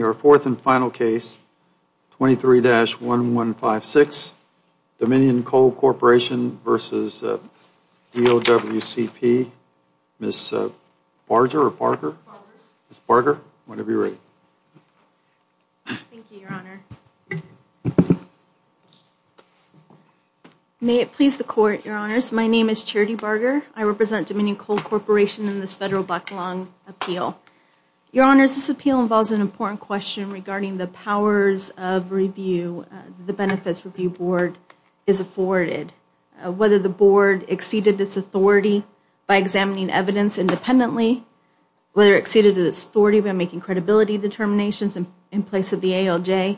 4th and final case 23-1156 Dominion Coal Corporation v. DOWCP. Ms. Barger or Parker? Ms. Barger. Whenever you're ready. Thank you, your honor. May it please the court, your honors. My name is Charity Barger. I represent Dominion Coal Corporation in this federal backlog appeal. Your honors, this appeal involves an important question regarding the powers of review the benefits review board is afforded, whether the board exceeded its authority by examining evidence independently, whether it exceeded its authority by making credibility determinations in place of the ALJ.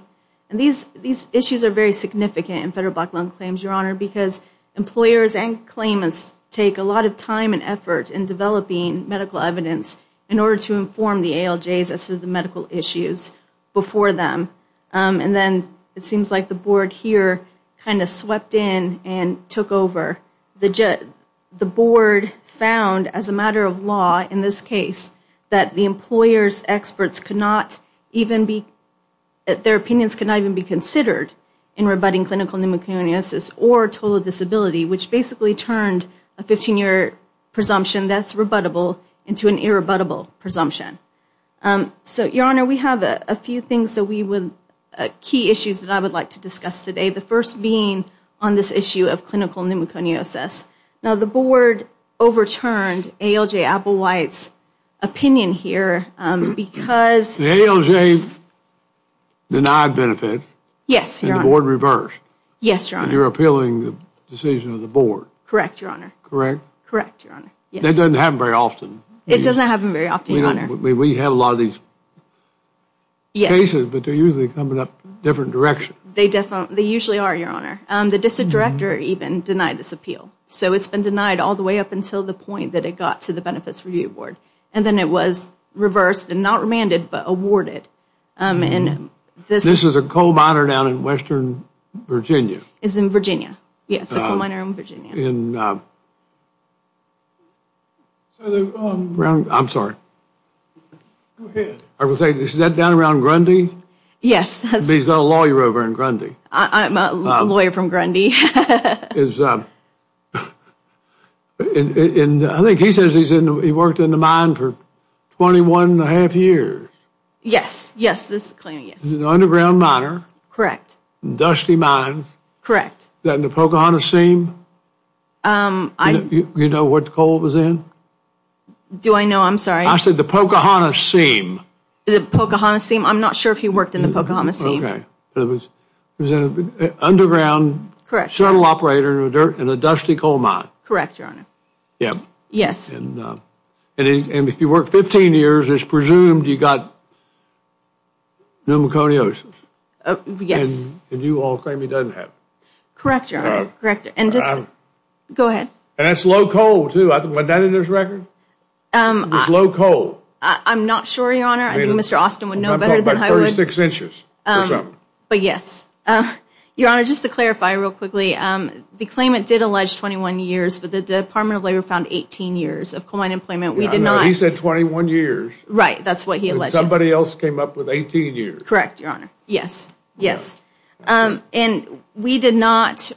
And these issues are very significant in federal backlog claims, your honor, because employers and claimants take a lot of time and effort in developing medical evidence in order to inform the ALJs as to the medical issues before them. And then it seems like the board here kind of swept in and took over. The board found as a matter of law in this case that the employer's experts could not even be, their opinions could not even be considered in rebutting clinical pneumoconiosis or total disability, which basically turned a 15-year presumption that's rebuttable into an irrebuttable presumption. So, your honor, we have a few things that we would, key issues that I would like to discuss today. The first being on this issue of clinical pneumoconiosis. Now, the board overturned ALJ Applewhite's opinion here because. The ALJ denied benefit. Yes, your honor. And the board reversed. Yes, your honor. And you're appealing the decision of the board. Correct, your honor. Correct? Correct, your honor. That doesn't happen very often. It doesn't happen very often, your honor. We have a lot of these cases, but they're usually coming up different directions. They definitely, they usually are, your honor. The district director even denied this appeal. So it's been denied all the way up until the point that it got to the benefits review board. And then it was reversed and not remanded, but awarded. This is a coal miner down in western Virginia. It's in Virginia. Yes, a coal miner in Virginia. I'm sorry. Go ahead. I would say, is that down around Grundy? Yes. He's got a lawyer over in Grundy. I'm a lawyer from Grundy. And I think he says he worked in the mine for 21 and a half years. Yes, yes, this claim, yes. He's an underground miner. Correct. Dusty mines. Correct. Is that in the Pocahontas seam? You know what coal was in? Do I know? I'm sorry. I said the Pocahontas seam. The Pocahontas seam. I'm not sure if he worked in the Pocahontas seam. Okay. Underground. Correct. Shuttle operator in a dusty coal mine. Correct, your honor. Yes. And if you worked 15 years, it's presumed you got pneumoconios. Yes. And you all claim he doesn't have. Correct, your honor. Correct. And just, go ahead. And that's low coal, too. I think, wasn't that in his record? It was low coal. I'm not sure, your honor. I think Mr. Austin would know better than I would. 36 inches. But yes. Your honor, just to clarify real quickly, the claimant did allege 21 years, but the Department of Labor found 18 years of coal mine employment. We did not. He said 21 years. Right. That's what he alleged. Somebody else came up with 18 years. Correct, your honor. Yes. Yes. And we did not,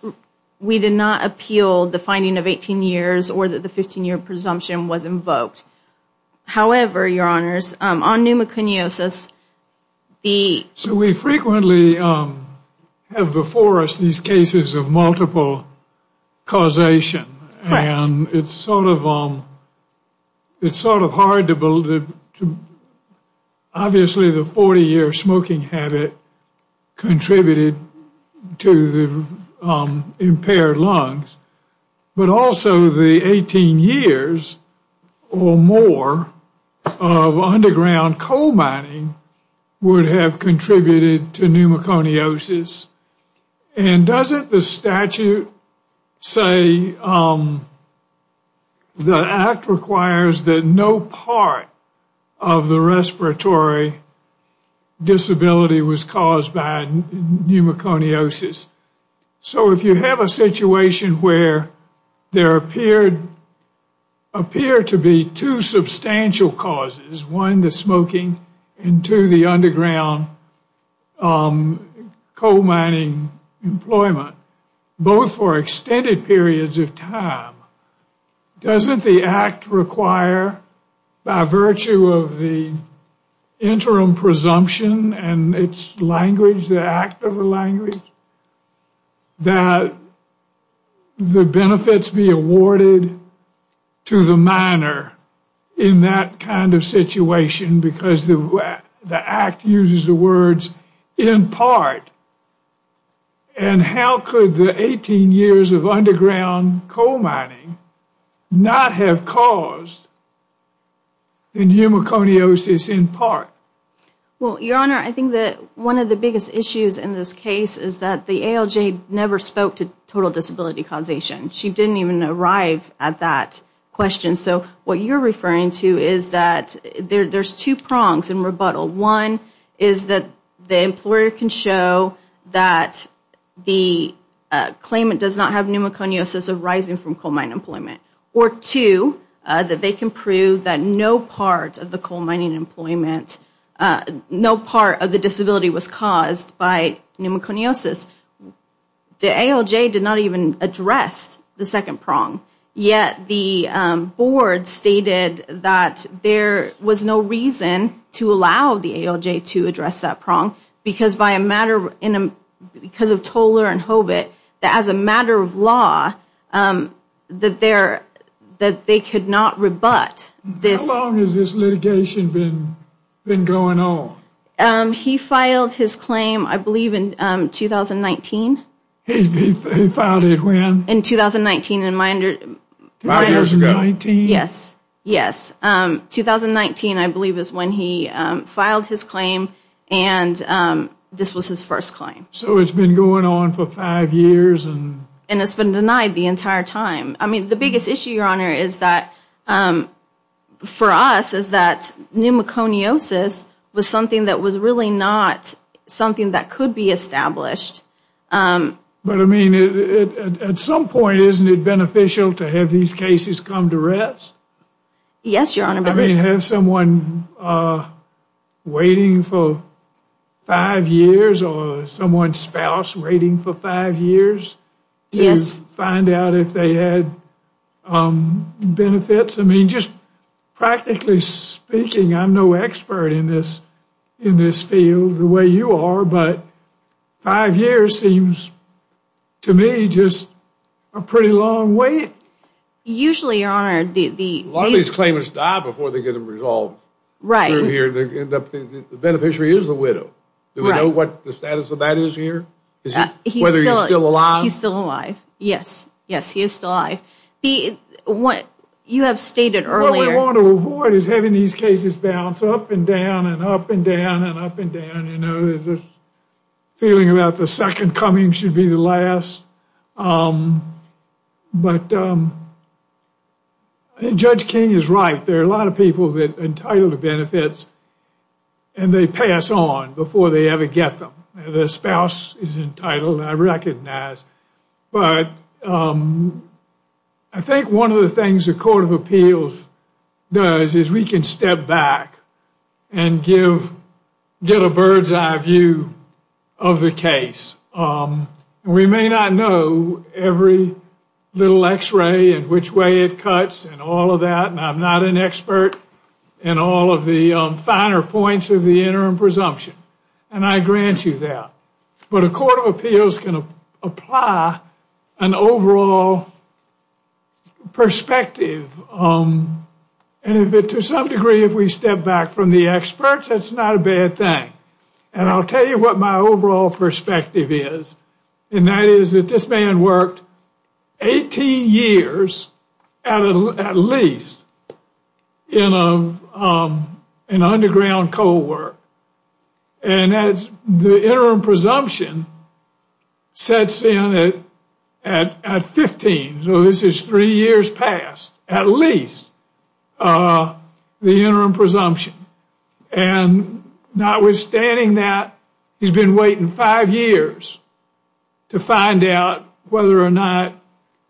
we did not appeal the finding of 18 years or that the 15-year presumption was invoked. However, your honors, on pneumoconiosis, the. So we frequently have before us these cases of multiple causation. Correct. And it's sort of, it's sort of hard to, obviously the 40-year smoking habit contributed to the impaired lungs. But also the 18 years or more of underground coal mining would have contributed to pneumoconiosis. And doesn't the statute say the act requires that no part of the respiratory disability was caused by pneumoconiosis. So if you have a situation where there appeared, appear to be two substantial causes, one the smoking and two the underground coal mining employment, both for extended periods of time, doesn't the act require, by virtue of the interim presumption and its language, the act of the language, that the benefits be awarded to the minor in that kind of situation because the act uses the words in part. And how could the 18 years of underground coal mining not have caused pneumoconiosis in part? Well, your honor, I think that one of the biggest issues in this case is that the ALJ never spoke to total disability causation. She didn't even arrive at that question. So what you're referring to is that there's two prongs in rebuttal. One is that the employer can show that the claimant does not have pneumoconiosis arising from coal mine employment. Or two, that they can prove that no part of the coal mining employment, no part of the disability was caused by pneumoconiosis. The ALJ did not even address the second prong. Yet the board stated that there was no reason to allow the ALJ to address that prong because by a matter, because of Toler and Hobit, that as a matter of law, that they're, that they could not rebut this. How long has this litigation been going on? He filed his claim, I believe, in 2019. He filed it when? In 2019. Five years ago. Yes, yes. 2019, I believe, is when he filed his claim. And this was his first claim. So it's been going on for five years. And it's been denied the entire time. I mean, the biggest issue, Your Honor, is that, for us, is that pneumoconiosis was something that was really not something that could be established. But I mean, at some point, isn't it beneficial to have these cases come to rest? Yes, Your Honor. I mean, have someone waiting for five years or someone's spouse waiting for five years to find out if they had benefits? I mean, just practically speaking, I'm no expert in this, in this field the way you are. But five years seems to me just a pretty long wait. Usually, Your Honor, a lot of these claimants die before they get them resolved. Right. The beneficiary is the widow. Do we know what the status of that is here? Whether he's still alive? He's still alive. Yes, yes, he is still alive. What you have stated earlier... What we want to avoid is having these cases bounce up and down and up and down and up and down. You know, there's this feeling about the second coming should be the last. But Judge King is right. There are a lot of people that are entitled to benefits and they pass on before they ever get them. The spouse is entitled, I recognize. But I think one of the things the Court of Appeals does is we can step back and give, get a bird's eye view of the case. We may not know every little x-ray and which way it cuts and all of that. And I'm not an expert in all of the finer points of the interim presumption. And I grant you that. But a Court of Appeals can apply an overall perspective. And if it to some degree, if we step back from the experts, that's not a bad thing. And I'll tell you what my overall perspective is. And that is that this man worked 18 years at least in an underground coal work. And the interim presumption sets in at 15. So this is three years past at least the interim presumption. And notwithstanding that, he's been waiting five years to find out whether or not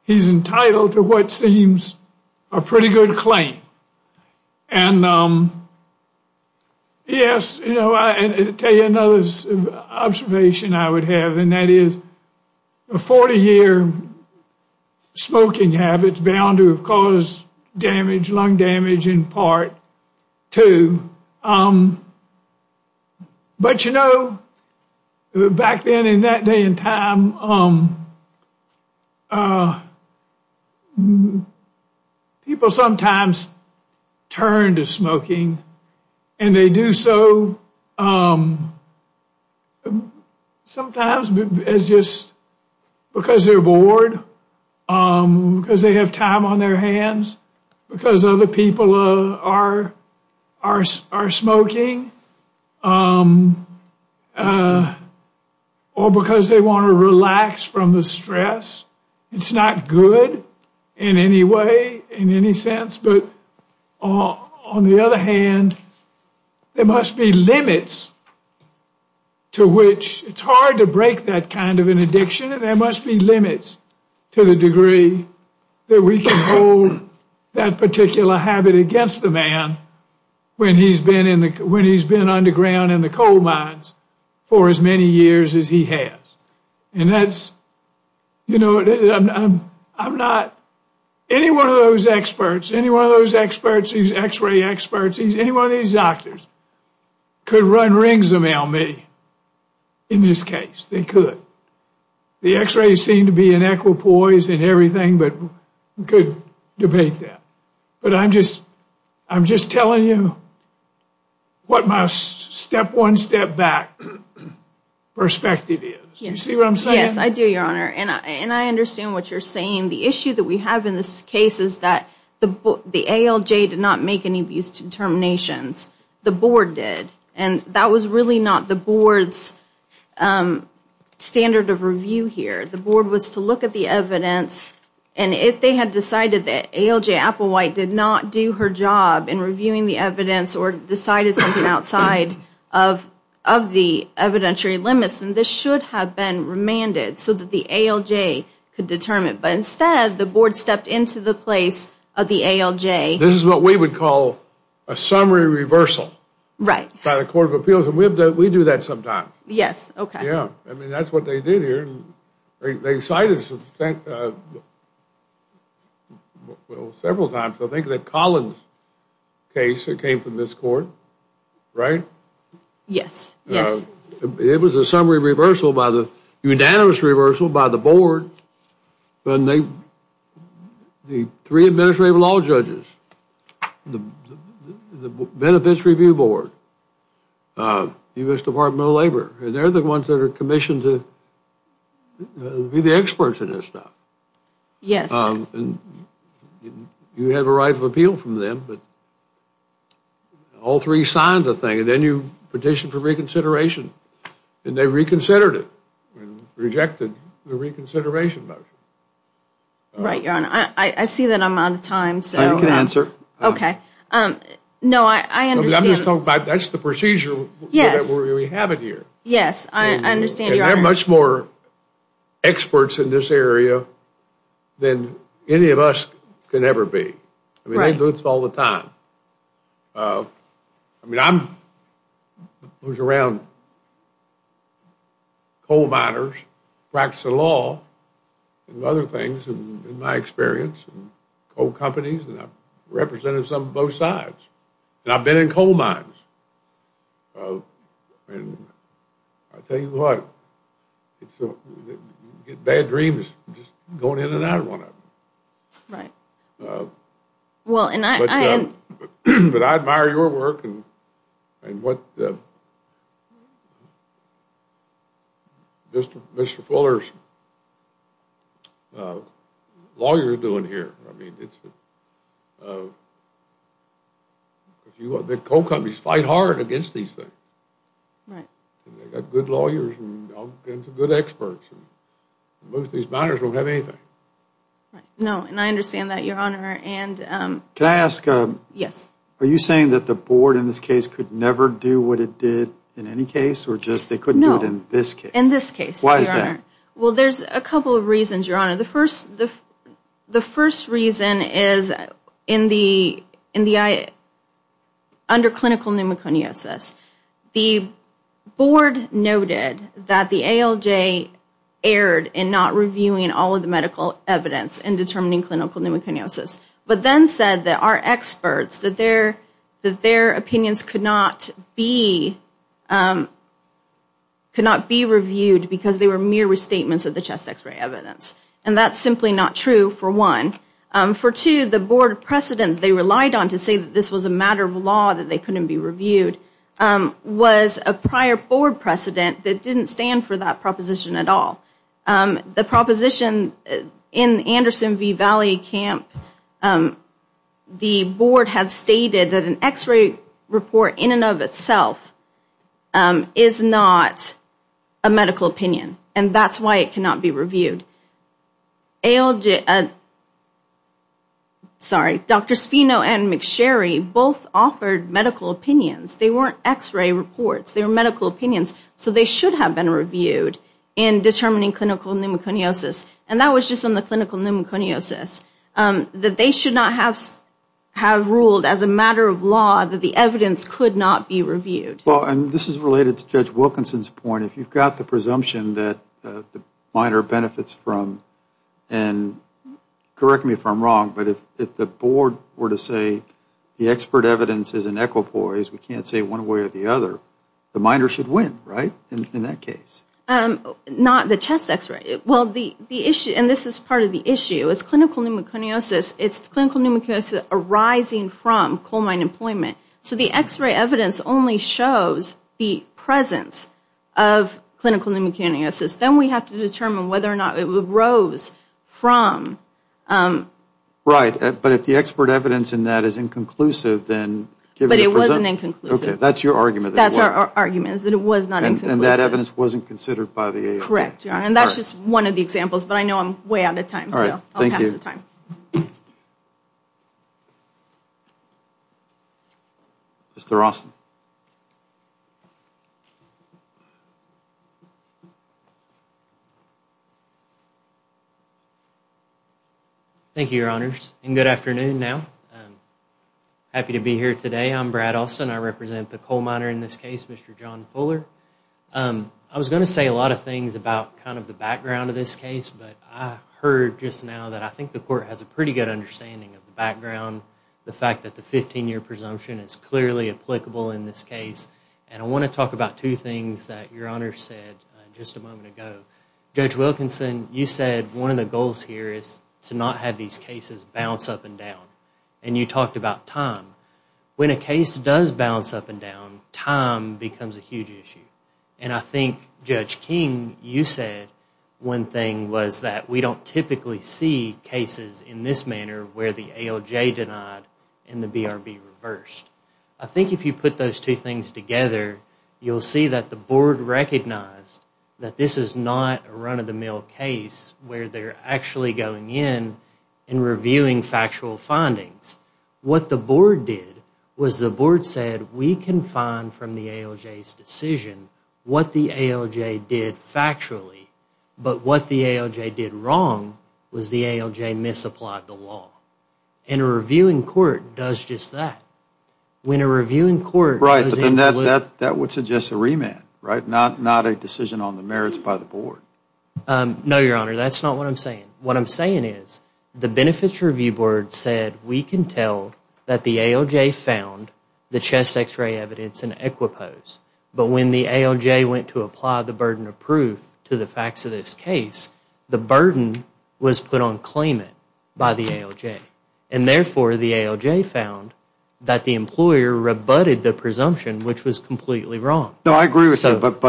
he's entitled to what seems a pretty good claim. And yes, you know, I tell you another observation I would have. And that is the 40-year smoking habits bound to have caused damage, lung damage in part too. But you know, back then in that day and time, people sometimes turn to smoking. And they do so because sometimes it's just because they're bored. Because they have time on their hands. Because other people are smoking. Or because they want to relax from the stress. It's not good in any way, in any sense. But on the other hand, there must be limits to which it's hard to break that kind of an addiction. And there must be limits to the degree that we can hold that particular habit against the man when he's been underground in the coal mines for as many years as he has. And that's, you know, I'm not, any one of those experts, any one of those experts, these x-ray experts, any one of these doctors could run rings around me in this case. They could. The x-rays seem to be in equipoise and everything, but we could debate that. But I'm just, I'm just telling you what my step one, step back perspective is. You see what I'm saying? Yes, I do, Your Honor. And I understand what you're saying. The issue that we have in this case is that the ALJ did not make any of these determinations. The board did. And that was really not the board's standard of review here. The board was to look at the evidence, and if they had decided that ALJ Applewhite did not do her job in reviewing the evidence or decided something outside of the evidentiary limits, then this should have been remanded so that the ALJ could determine. But instead, the board stepped into the place of the ALJ. This is what we would call a summary reversal by the Court of Appeals, and we do that sometimes. Yes, okay. I mean, that's what they did here. They cited several times, I think, that Collins case that came from this court, right? Yes, yes. It was a summary reversal by the, a unanimous reversal by the board. The three administrative law judges, the Benefits Review Board, the U.S. Department of Labor, and they're the ones that are commissioned to be the experts in this stuff. Yes. You have a right of appeal from them, but all three signed the thing, and then you petitioned for reconsideration, and they reconsidered it and rejected the reconsideration motion. Right, Your Honor. I see that I'm out of time, so. You can answer. Okay. No, I understand. That's the procedure that we have it here. Yes, I understand, Your Honor. There are much more experts in this area than any of us can ever be. I mean, they do this all the time. I mean, I was around coal miners, practicing law, and other things in my experience, coal companies, and I've represented some of both sides. And I've been in coal mines. And I'll tell you what, you get bad dreams just going in and out of one of them. Right. But I admire your work, and what Mr. Fuller's lawyer is doing here. I mean, the coal companies fight hard against these things. Right. And they've got good lawyers and good experts. Most of these miners don't have anything. No, and I understand that, Your Honor. And can I ask, are you saying that the board in this case could never do what it did in any case, or just they couldn't do it in this case? In this case, Your Honor. Why is that? Well, there's a couple of reasons, Your Honor. The first reason is, under clinical pneumoconiosis, the board noted that the ALJ erred in not reviewing all of the medical evidence in determining clinical pneumoconiosis. But then said that our experts, that their opinions could not be reviewed, because they were mere restatements of the chest x-ray evidence. And that's simply not true, for one. For two, the board precedent they relied on to say that this was a matter of law, that they couldn't be reviewed, was a prior board precedent that didn't stand for that proposition at all. The proposition in Anderson v. Valley Camp, the board had stated that an x-ray report in and of itself is not a medical opinion, and that's why it cannot be reviewed. ALJ, sorry, Dr. Sfino and McSherry both offered medical opinions. They weren't x-ray reports. They were medical opinions. So they should have been reviewed in determining clinical pneumoconiosis. And that was just on the clinical pneumoconiosis, that they should not have ruled as a matter of law that the evidence could not be reviewed. Well, and this is related to Judge Wilkinson's point. If you've got the presumption that the minor benefits from, and correct me if I'm wrong, but if the board were to say the expert evidence is an equipoise, we can't say one way or the other, the minor should win, right, in that case? Not the chest x-ray. Well, the issue, and this is part of the issue, is clinical pneumoconiosis, it's clinical pneumoconiosis arising from coal mine employment. So the x-ray evidence only shows the presence of clinical pneumoconiosis. Then we have to determine whether or not it arose from... Right. But if the expert evidence in that is inconclusive, then... But it wasn't inconclusive. Okay. That's your argument. That's our argument, is that it was not inconclusive. And that evidence wasn't considered by the AOB. Correct. And that's just one of the examples. But I know I'm way out of time, so I'll pass the time. Mr. Austin. Thank you, Your Honors, and good afternoon now. Happy to be here today. I'm Brad Austin. I represent the coal miner in this case, Mr. John Fuller. I was going to say a lot of things about kind of the background of this case, but I heard just now that I think the court has a pretty good understanding of the background, the fact that the 15-year presumption is clearly applicable in this case. And I want to talk about two things that Your Honor said just a moment ago. Judge Wilkinson, you said one of the goals here is to not have these cases bounce up and down. And you talked about time. When a case does bounce up and down, time becomes a huge issue. And I think, Judge King, you said one thing was that we don't typically see cases in this manner where the ALJ denied and the BRB reversed. I think if you put those two things together, you'll see that the board recognized that this is not a run-of-the-mill case where they're actually going in and reviewing factual findings. What the board did was the board said we can find from the ALJ's decision what the ALJ did factually, but what the ALJ did wrong was the ALJ misapplied the law. And a review in court does just that. When a review in court... Right, but then that would suggest a remand, right? Not a decision on the merits by the board. No, Your Honor. That's not what I'm saying. What I'm saying is the Benefits Review Board said we can tell that the ALJ found the chest to the facts of this case. The burden was put on claimant by the ALJ. And therefore, the ALJ found that the employer rebutted the presumption, which was completely wrong. No, I agree with you, but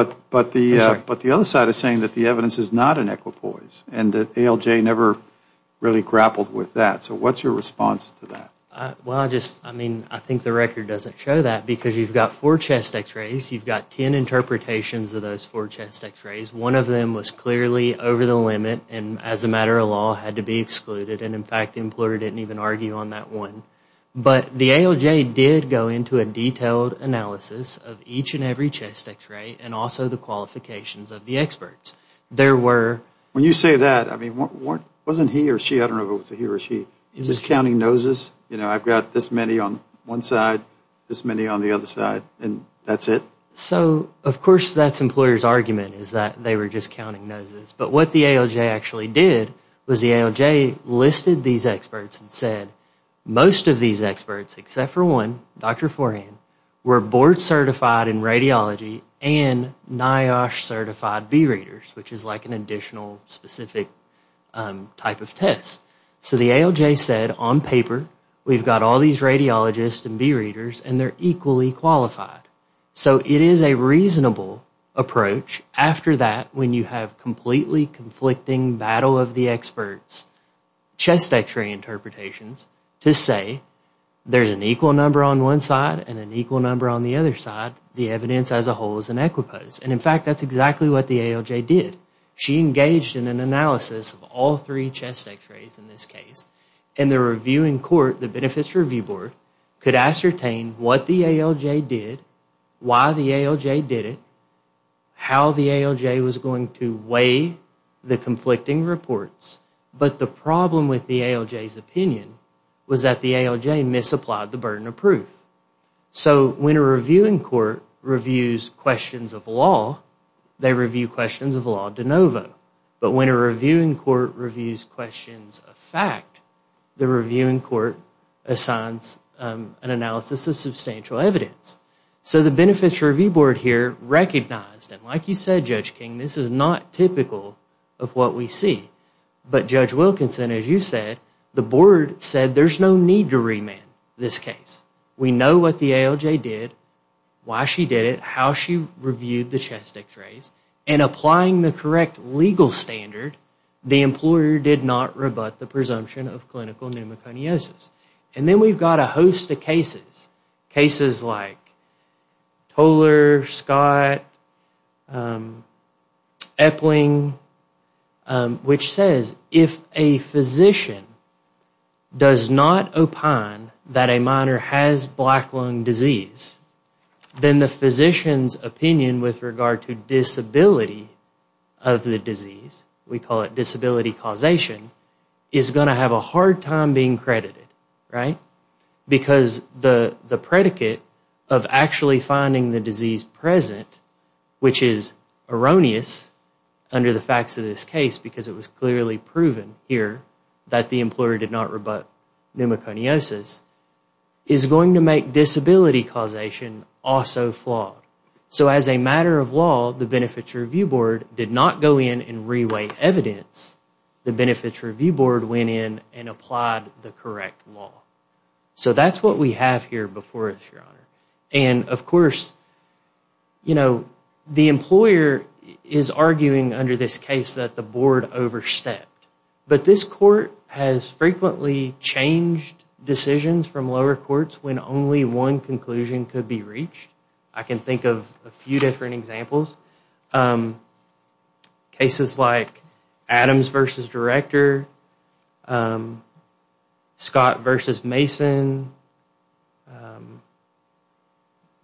the other side is saying that the evidence is not an equipoise and that ALJ never really grappled with that. So what's your response to that? Well, I just, I mean, I think the record doesn't show that because you've got four chest x-rays, you've got ten interpretations of those four chest x-rays. One of them was clearly over the limit and as a matter of law had to be excluded. And in fact, the employer didn't even argue on that one. But the ALJ did go into a detailed analysis of each and every chest x-ray and also the qualifications of the experts. There were... When you say that, I mean, wasn't he or she, I don't know if it was he or she, just counting noses? You know, I've got this many on one side, this many on the other side, and that's it? So, of course, that's employer's argument is that they were just counting noses. But what the ALJ actually did was the ALJ listed these experts and said, most of these experts, except for one, Dr. Forhan, were board certified in radiology and NIOSH certified B-readers, which is like an additional specific type of test. So the ALJ said, on paper, we've got all these radiologists and B-readers and they're equally qualified. So it is a reasonable approach after that, when you have completely conflicting battle of the experts, chest x-ray interpretations, to say there's an equal number on one side and an equal number on the other side. The evidence as a whole is an equipose. And in fact, that's exactly what the ALJ did. She engaged in an analysis of all three chest x-rays in this case. And the reviewing court, the Benefits Review Board, could ascertain what the ALJ did, why the ALJ did it, how the ALJ was going to weigh the conflicting reports. But the problem with the ALJ's opinion was that the ALJ misapplied the burden of proof. So when a reviewing court reviews questions of law, they review questions of law de novo. But when a reviewing court reviews questions of fact, the reviewing court assigns an analysis of substantial evidence. So the Benefits Review Board here recognized, and like you said, Judge King, this is not typical of what we see. But Judge Wilkinson, as you said, the board said there's no need to remand this case. We know what the ALJ did, why she did it, how she reviewed the chest x-rays. And applying the correct legal standard, the employer did not rebut the presumption of clinical pneumoconiosis. And then we've got a host of cases, cases like Toller, Scott, Epling, which says if a physician does not opine that a minor has black lung disease, then the physician's opinion with regard to disability of the disease, we call it disability causation, is going to have a hard time being credited, right? Because the predicate of actually finding the disease present, which is erroneous under the facts of this case, because it was clearly proven here that the employer did not rebut pneumoconiosis, is going to make disability causation also flawed. So as a matter of law, the Benefits Review Board did not go in and reweigh evidence. The Benefits Review Board went in and applied the correct law. So that's what we have here before us, Your Honor. And of course, you know, the employer is arguing under this case that the board overstepped. But this court has frequently changed decisions from lower courts when only one conclusion could be reached. I can think of a few different examples. Cases like Adams v. Director, Scott v. Mason,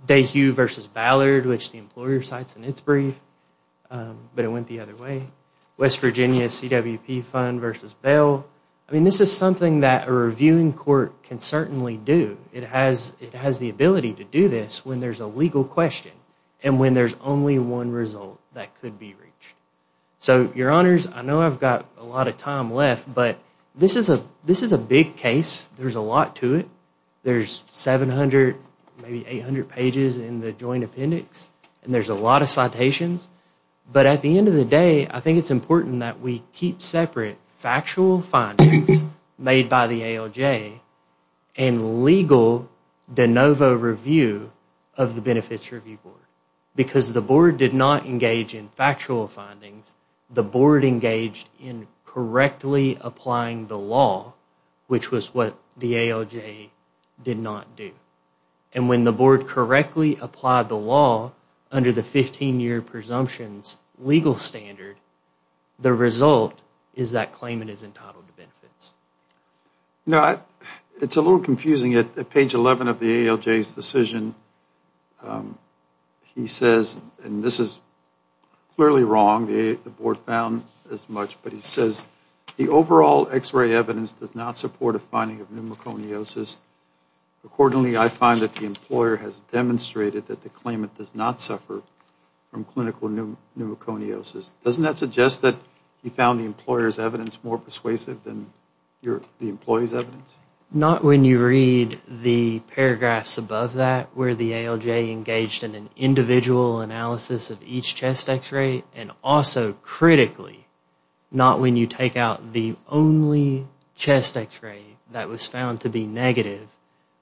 Dayhue v. Ballard, which the employer cites in its brief, but it went the other way, West Virginia CWP Fund v. Bell. I mean, this is something that a reviewing court can certainly do. It has the ability to do this when there's a legal question and when there's only one result that could be reached. So, Your Honors, I know I've got a lot of time left, but this is a big case. There's a lot to it. There's 700, maybe 800 pages in the joint appendix, and there's a lot of citations. But at the end of the day, I think it's important that we keep separate factual findings made by the ALJ and legal de novo review of the Benefits Review Board. Because the board did not engage in factual findings, the board engaged in correctly applying the law, which was what the ALJ did not do. And when the board correctly applied the law under the 15-year presumptions legal standard, the result is that claimant is entitled to benefits. Now, it's a little confusing at page 11 of the ALJ's decision. He says, and this is clearly wrong, the board found as much. But he says, the overall x-ray evidence does not support a finding of pneumoconiosis. Accordingly, I find that the employer has demonstrated that the claimant does not suffer from clinical pneumoconiosis. Doesn't that suggest that he found the employer's evidence more persuasive than the employee's evidence? Not when you read the paragraphs above that, where the ALJ engaged in an individual analysis of each chest x-ray, and also critically, not when you take out the only chest x-ray that was found to be negative,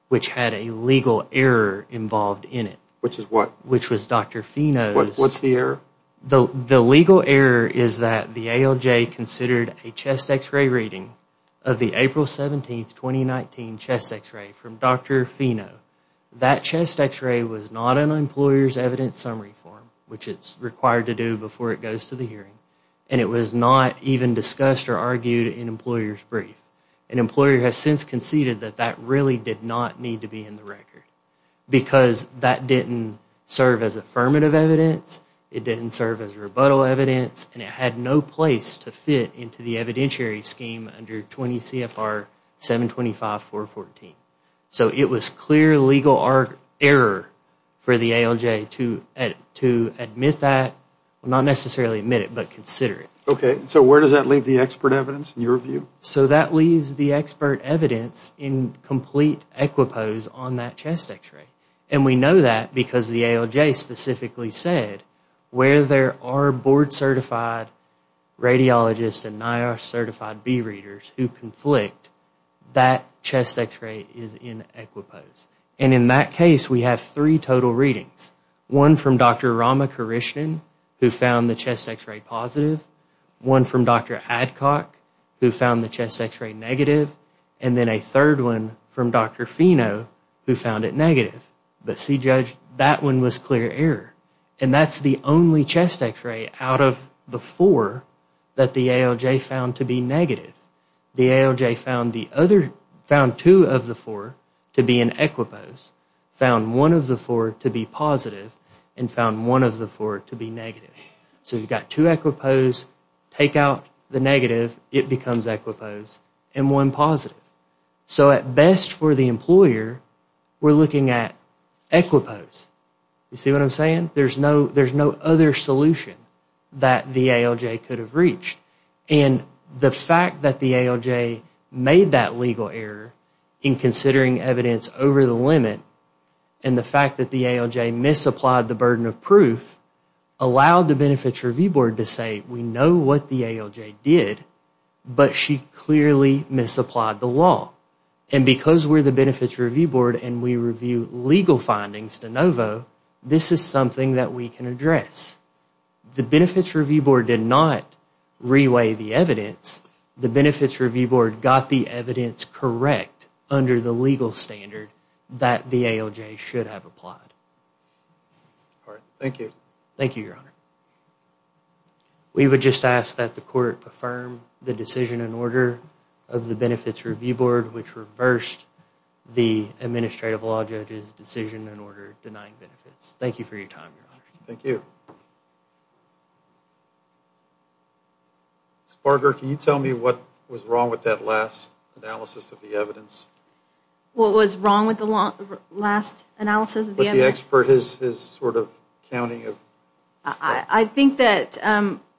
which had a legal error involved in it. Which is what? Which was Dr. Fino's. What's the error? The legal error is that the ALJ considered a chest x-ray reading of the April 17, 2019, chest x-ray from Dr. Fino. That chest x-ray was not an employer's evidence summary form, which it's required to do before it goes to the hearing. And it was not even discussed or argued in employer's brief. An employer has since conceded that that really did not need to be in the record. Because that didn't serve as affirmative evidence. It didn't serve as rebuttal evidence. And it had no place to fit into the evidentiary scheme under 20 CFR 725.414. So it was clear legal error for the ALJ to admit that, not necessarily admit it, but consider it. OK. So where does that leave the expert evidence, in your view? So that leaves the expert evidence in complete equipose on that chest x-ray. And we know that because the ALJ specifically said, where there are board certified radiologists and NIOSH certified B readers who conflict, that chest x-ray is in equipose. And in that case, we have three total readings. One from Dr. Ramakrishnan, who found the chest x-ray positive. One from Dr. Adcock, who found the chest x-ray negative. And then a third one from Dr. Fino, who found it negative. But see, Judge, that one was clear error. And that's the only chest x-ray out of the four that the ALJ found to be negative. The ALJ found two of the four to be in equipose, found one of the four to be positive, and found one of the four to be negative. So you've got two equipose. Take out the negative. It becomes equipose. And one positive. So at best for the employer, we're looking at equipose. You see what I'm saying? There's no other solution that the ALJ could have reached. And the fact that the ALJ made that legal error in considering evidence over the limit, and the fact that the ALJ misapplied the burden of proof, allowed the Benefits Review Board to say, we know what the ALJ did, but she clearly misapplied the law. And because we're the Benefits Review Board and we review legal findings de novo, this is something that we can address. The Benefits Review Board did not reweigh the evidence. The Benefits Review Board got the evidence correct under the legal standard that the ALJ should have applied. All right. Thank you. Thank you, Your Honor. We would just ask that the court affirm the decision and order of the Benefits Review Board, which reversed the Administrative Law Judge's decision and order denying benefits. Thank you for your time, Your Honor. Thank you. Ms. Barger, can you tell me what was wrong with that last analysis of the evidence? What was wrong with the last analysis of the evidence? With the expert, his sort of counting of... I think that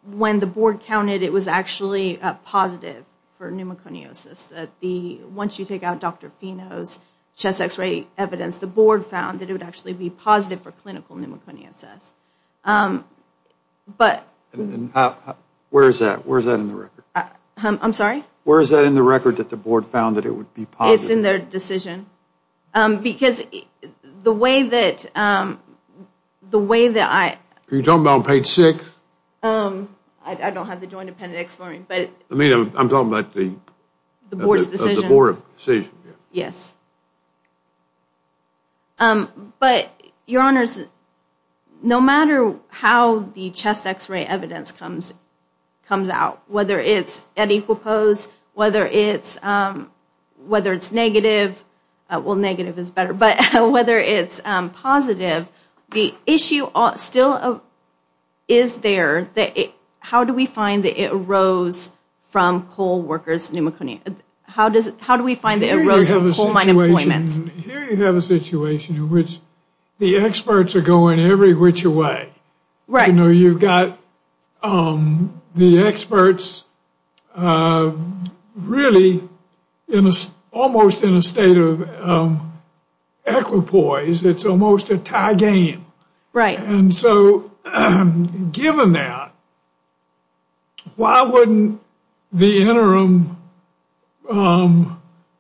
when the board counted, it was actually positive for pneumoconiosis. Once you take out Dr. Fino's chest x-ray evidence, the board found that it would actually be positive for clinical pneumoconiosis. But... Where is that? Where is that in the record? I'm sorry? Where is that in the record that the board found that it would be positive? It's in their decision. Because the way that... The way that I... Are you talking about on page six? I don't have the joint appendix for me, but... I mean, I'm talking about the... The board's decision. The board decision, yeah. Yes. But, Your Honors, no matter how the chest x-ray evidence comes out, whether it's at equal pose, whether it's negative, well, negative is better, but whether it's positive, the issue still is there. How do we find that it arose from coal workers' pneumoconiosis? How do we find that it arose from coal mine employments? Here you have a situation in which the experts are going every which way. Right. You've got the experts really almost in a state of equipoise. It's almost a tie game. Right. Given that, why wouldn't the interim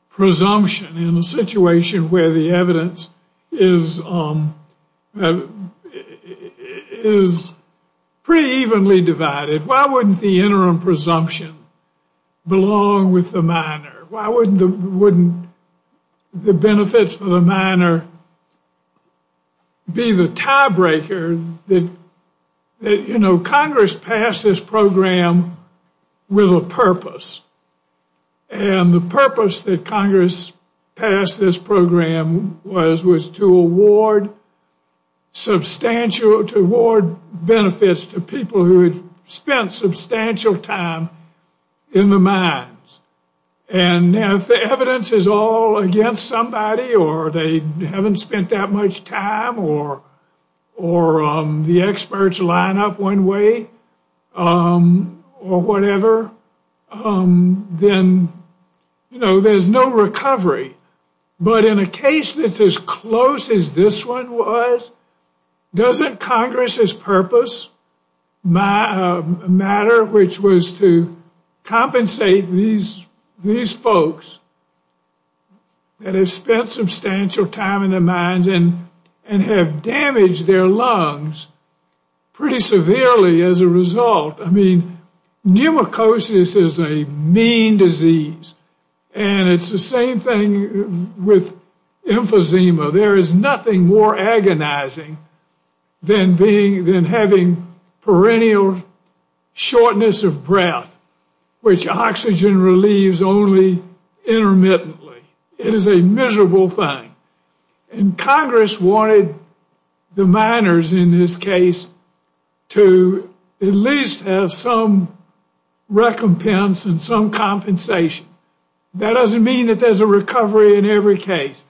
presumption in a situation where the evidence is pretty evenly divided, why wouldn't the interim presumption belong with the miner? Why wouldn't the benefits for the miner be the tiebreaker that... Congress passed this program with a purpose, and the purpose that Congress passed this program was to award substantial, to award benefits to people who had spent substantial time in the mines. And if the evidence is all against somebody, or they haven't spent that much time, or the experts line up one way, or whatever, then, you know, there's no recovery. But in a case that's as close as this one was, doesn't Congress's purpose matter? Which was to compensate these folks that have spent substantial time in the mines and have damaged their lungs pretty severely as a result. I mean, pneumoconiosis is a mean disease. And it's the same thing with emphysema. There is nothing more agonizing than having perennial shortness of breath, which oxygen relieves only intermittently. It is a miserable thing. And Congress wanted the miners, in this case, to at least have some recompense and some compensation. That doesn't mean that there's a recovery in every case.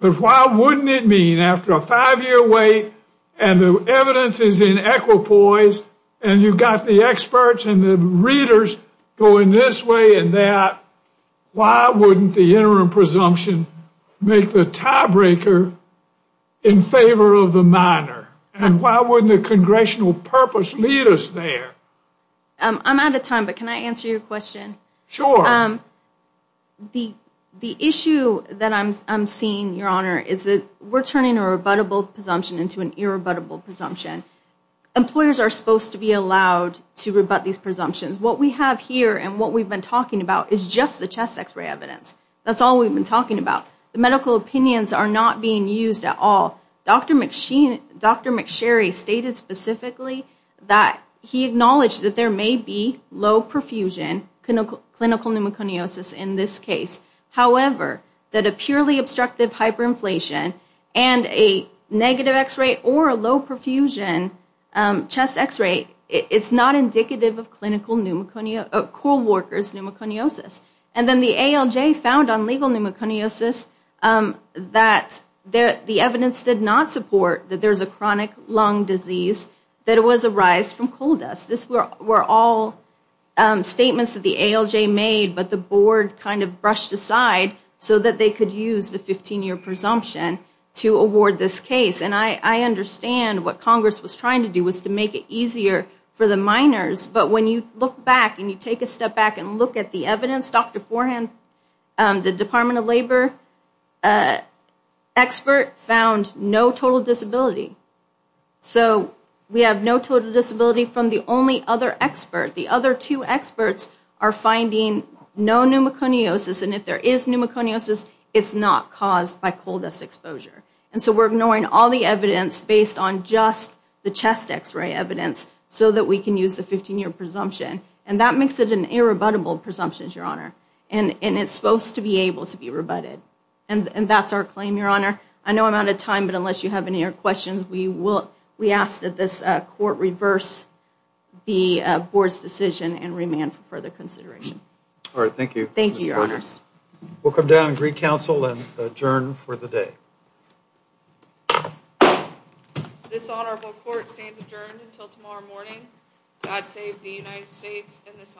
But why wouldn't it mean, after a five-year wait, and the evidence is in equipoise, and you've got the experts and the readers going this way and that, why wouldn't the interim presumption make the tiebreaker in favor of the miner? And why wouldn't the congressional purpose lead us there? I'm out of time, but can I answer your question? Sure. The issue that I'm seeing, Your Honor, is that we're turning a rebuttable presumption into an irrebuttable presumption. Employers are supposed to be allowed to rebut these presumptions. What we have here and what we've been talking about is just the chest X-ray evidence. That's all we've been talking about. The medical opinions are not being used at all. Dr. McSherry stated specifically that he acknowledged that there may be low-perfusion clinical pneumoconiosis in this case. However, that a purely obstructive hyperinflation and a negative X-ray or a low-perfusion chest X-ray, it's not indicative of co-workers' pneumoconiosis. And then the ALJ found on legal pneumoconiosis that the evidence did not support that there's a chronic lung disease that it was a rise from coal dust. We're all statements that the ALJ made, but the board kind of brushed aside so that they could use the 15-year presumption to award this case. And I understand what Congress was trying to do was to make it easier for the minors. But when you look back and you take a step back and look at the evidence, Dr. Forehand, the Department of Labor expert found no total disability. So we have no total disability from the only other expert. The other two experts are finding no pneumoconiosis. And if there is pneumoconiosis, it's not caused by coal dust exposure. And so we're ignoring all the evidence based on just the chest X-ray evidence so that we can use the 15-year presumption. And that makes it an irrebuttable presumption, Your Honor. And it's supposed to be able to be rebutted. And that's our claim, Your Honor. I know I'm out of time. But unless you have any other questions, we ask that this court reverse the board's decision and remand for further consideration. All right. Thank you. Thank you, Your Honors. We'll come down and recounsel and adjourn for the day. This honorable court stands adjourned until tomorrow morning. God save the United States and this honorable court.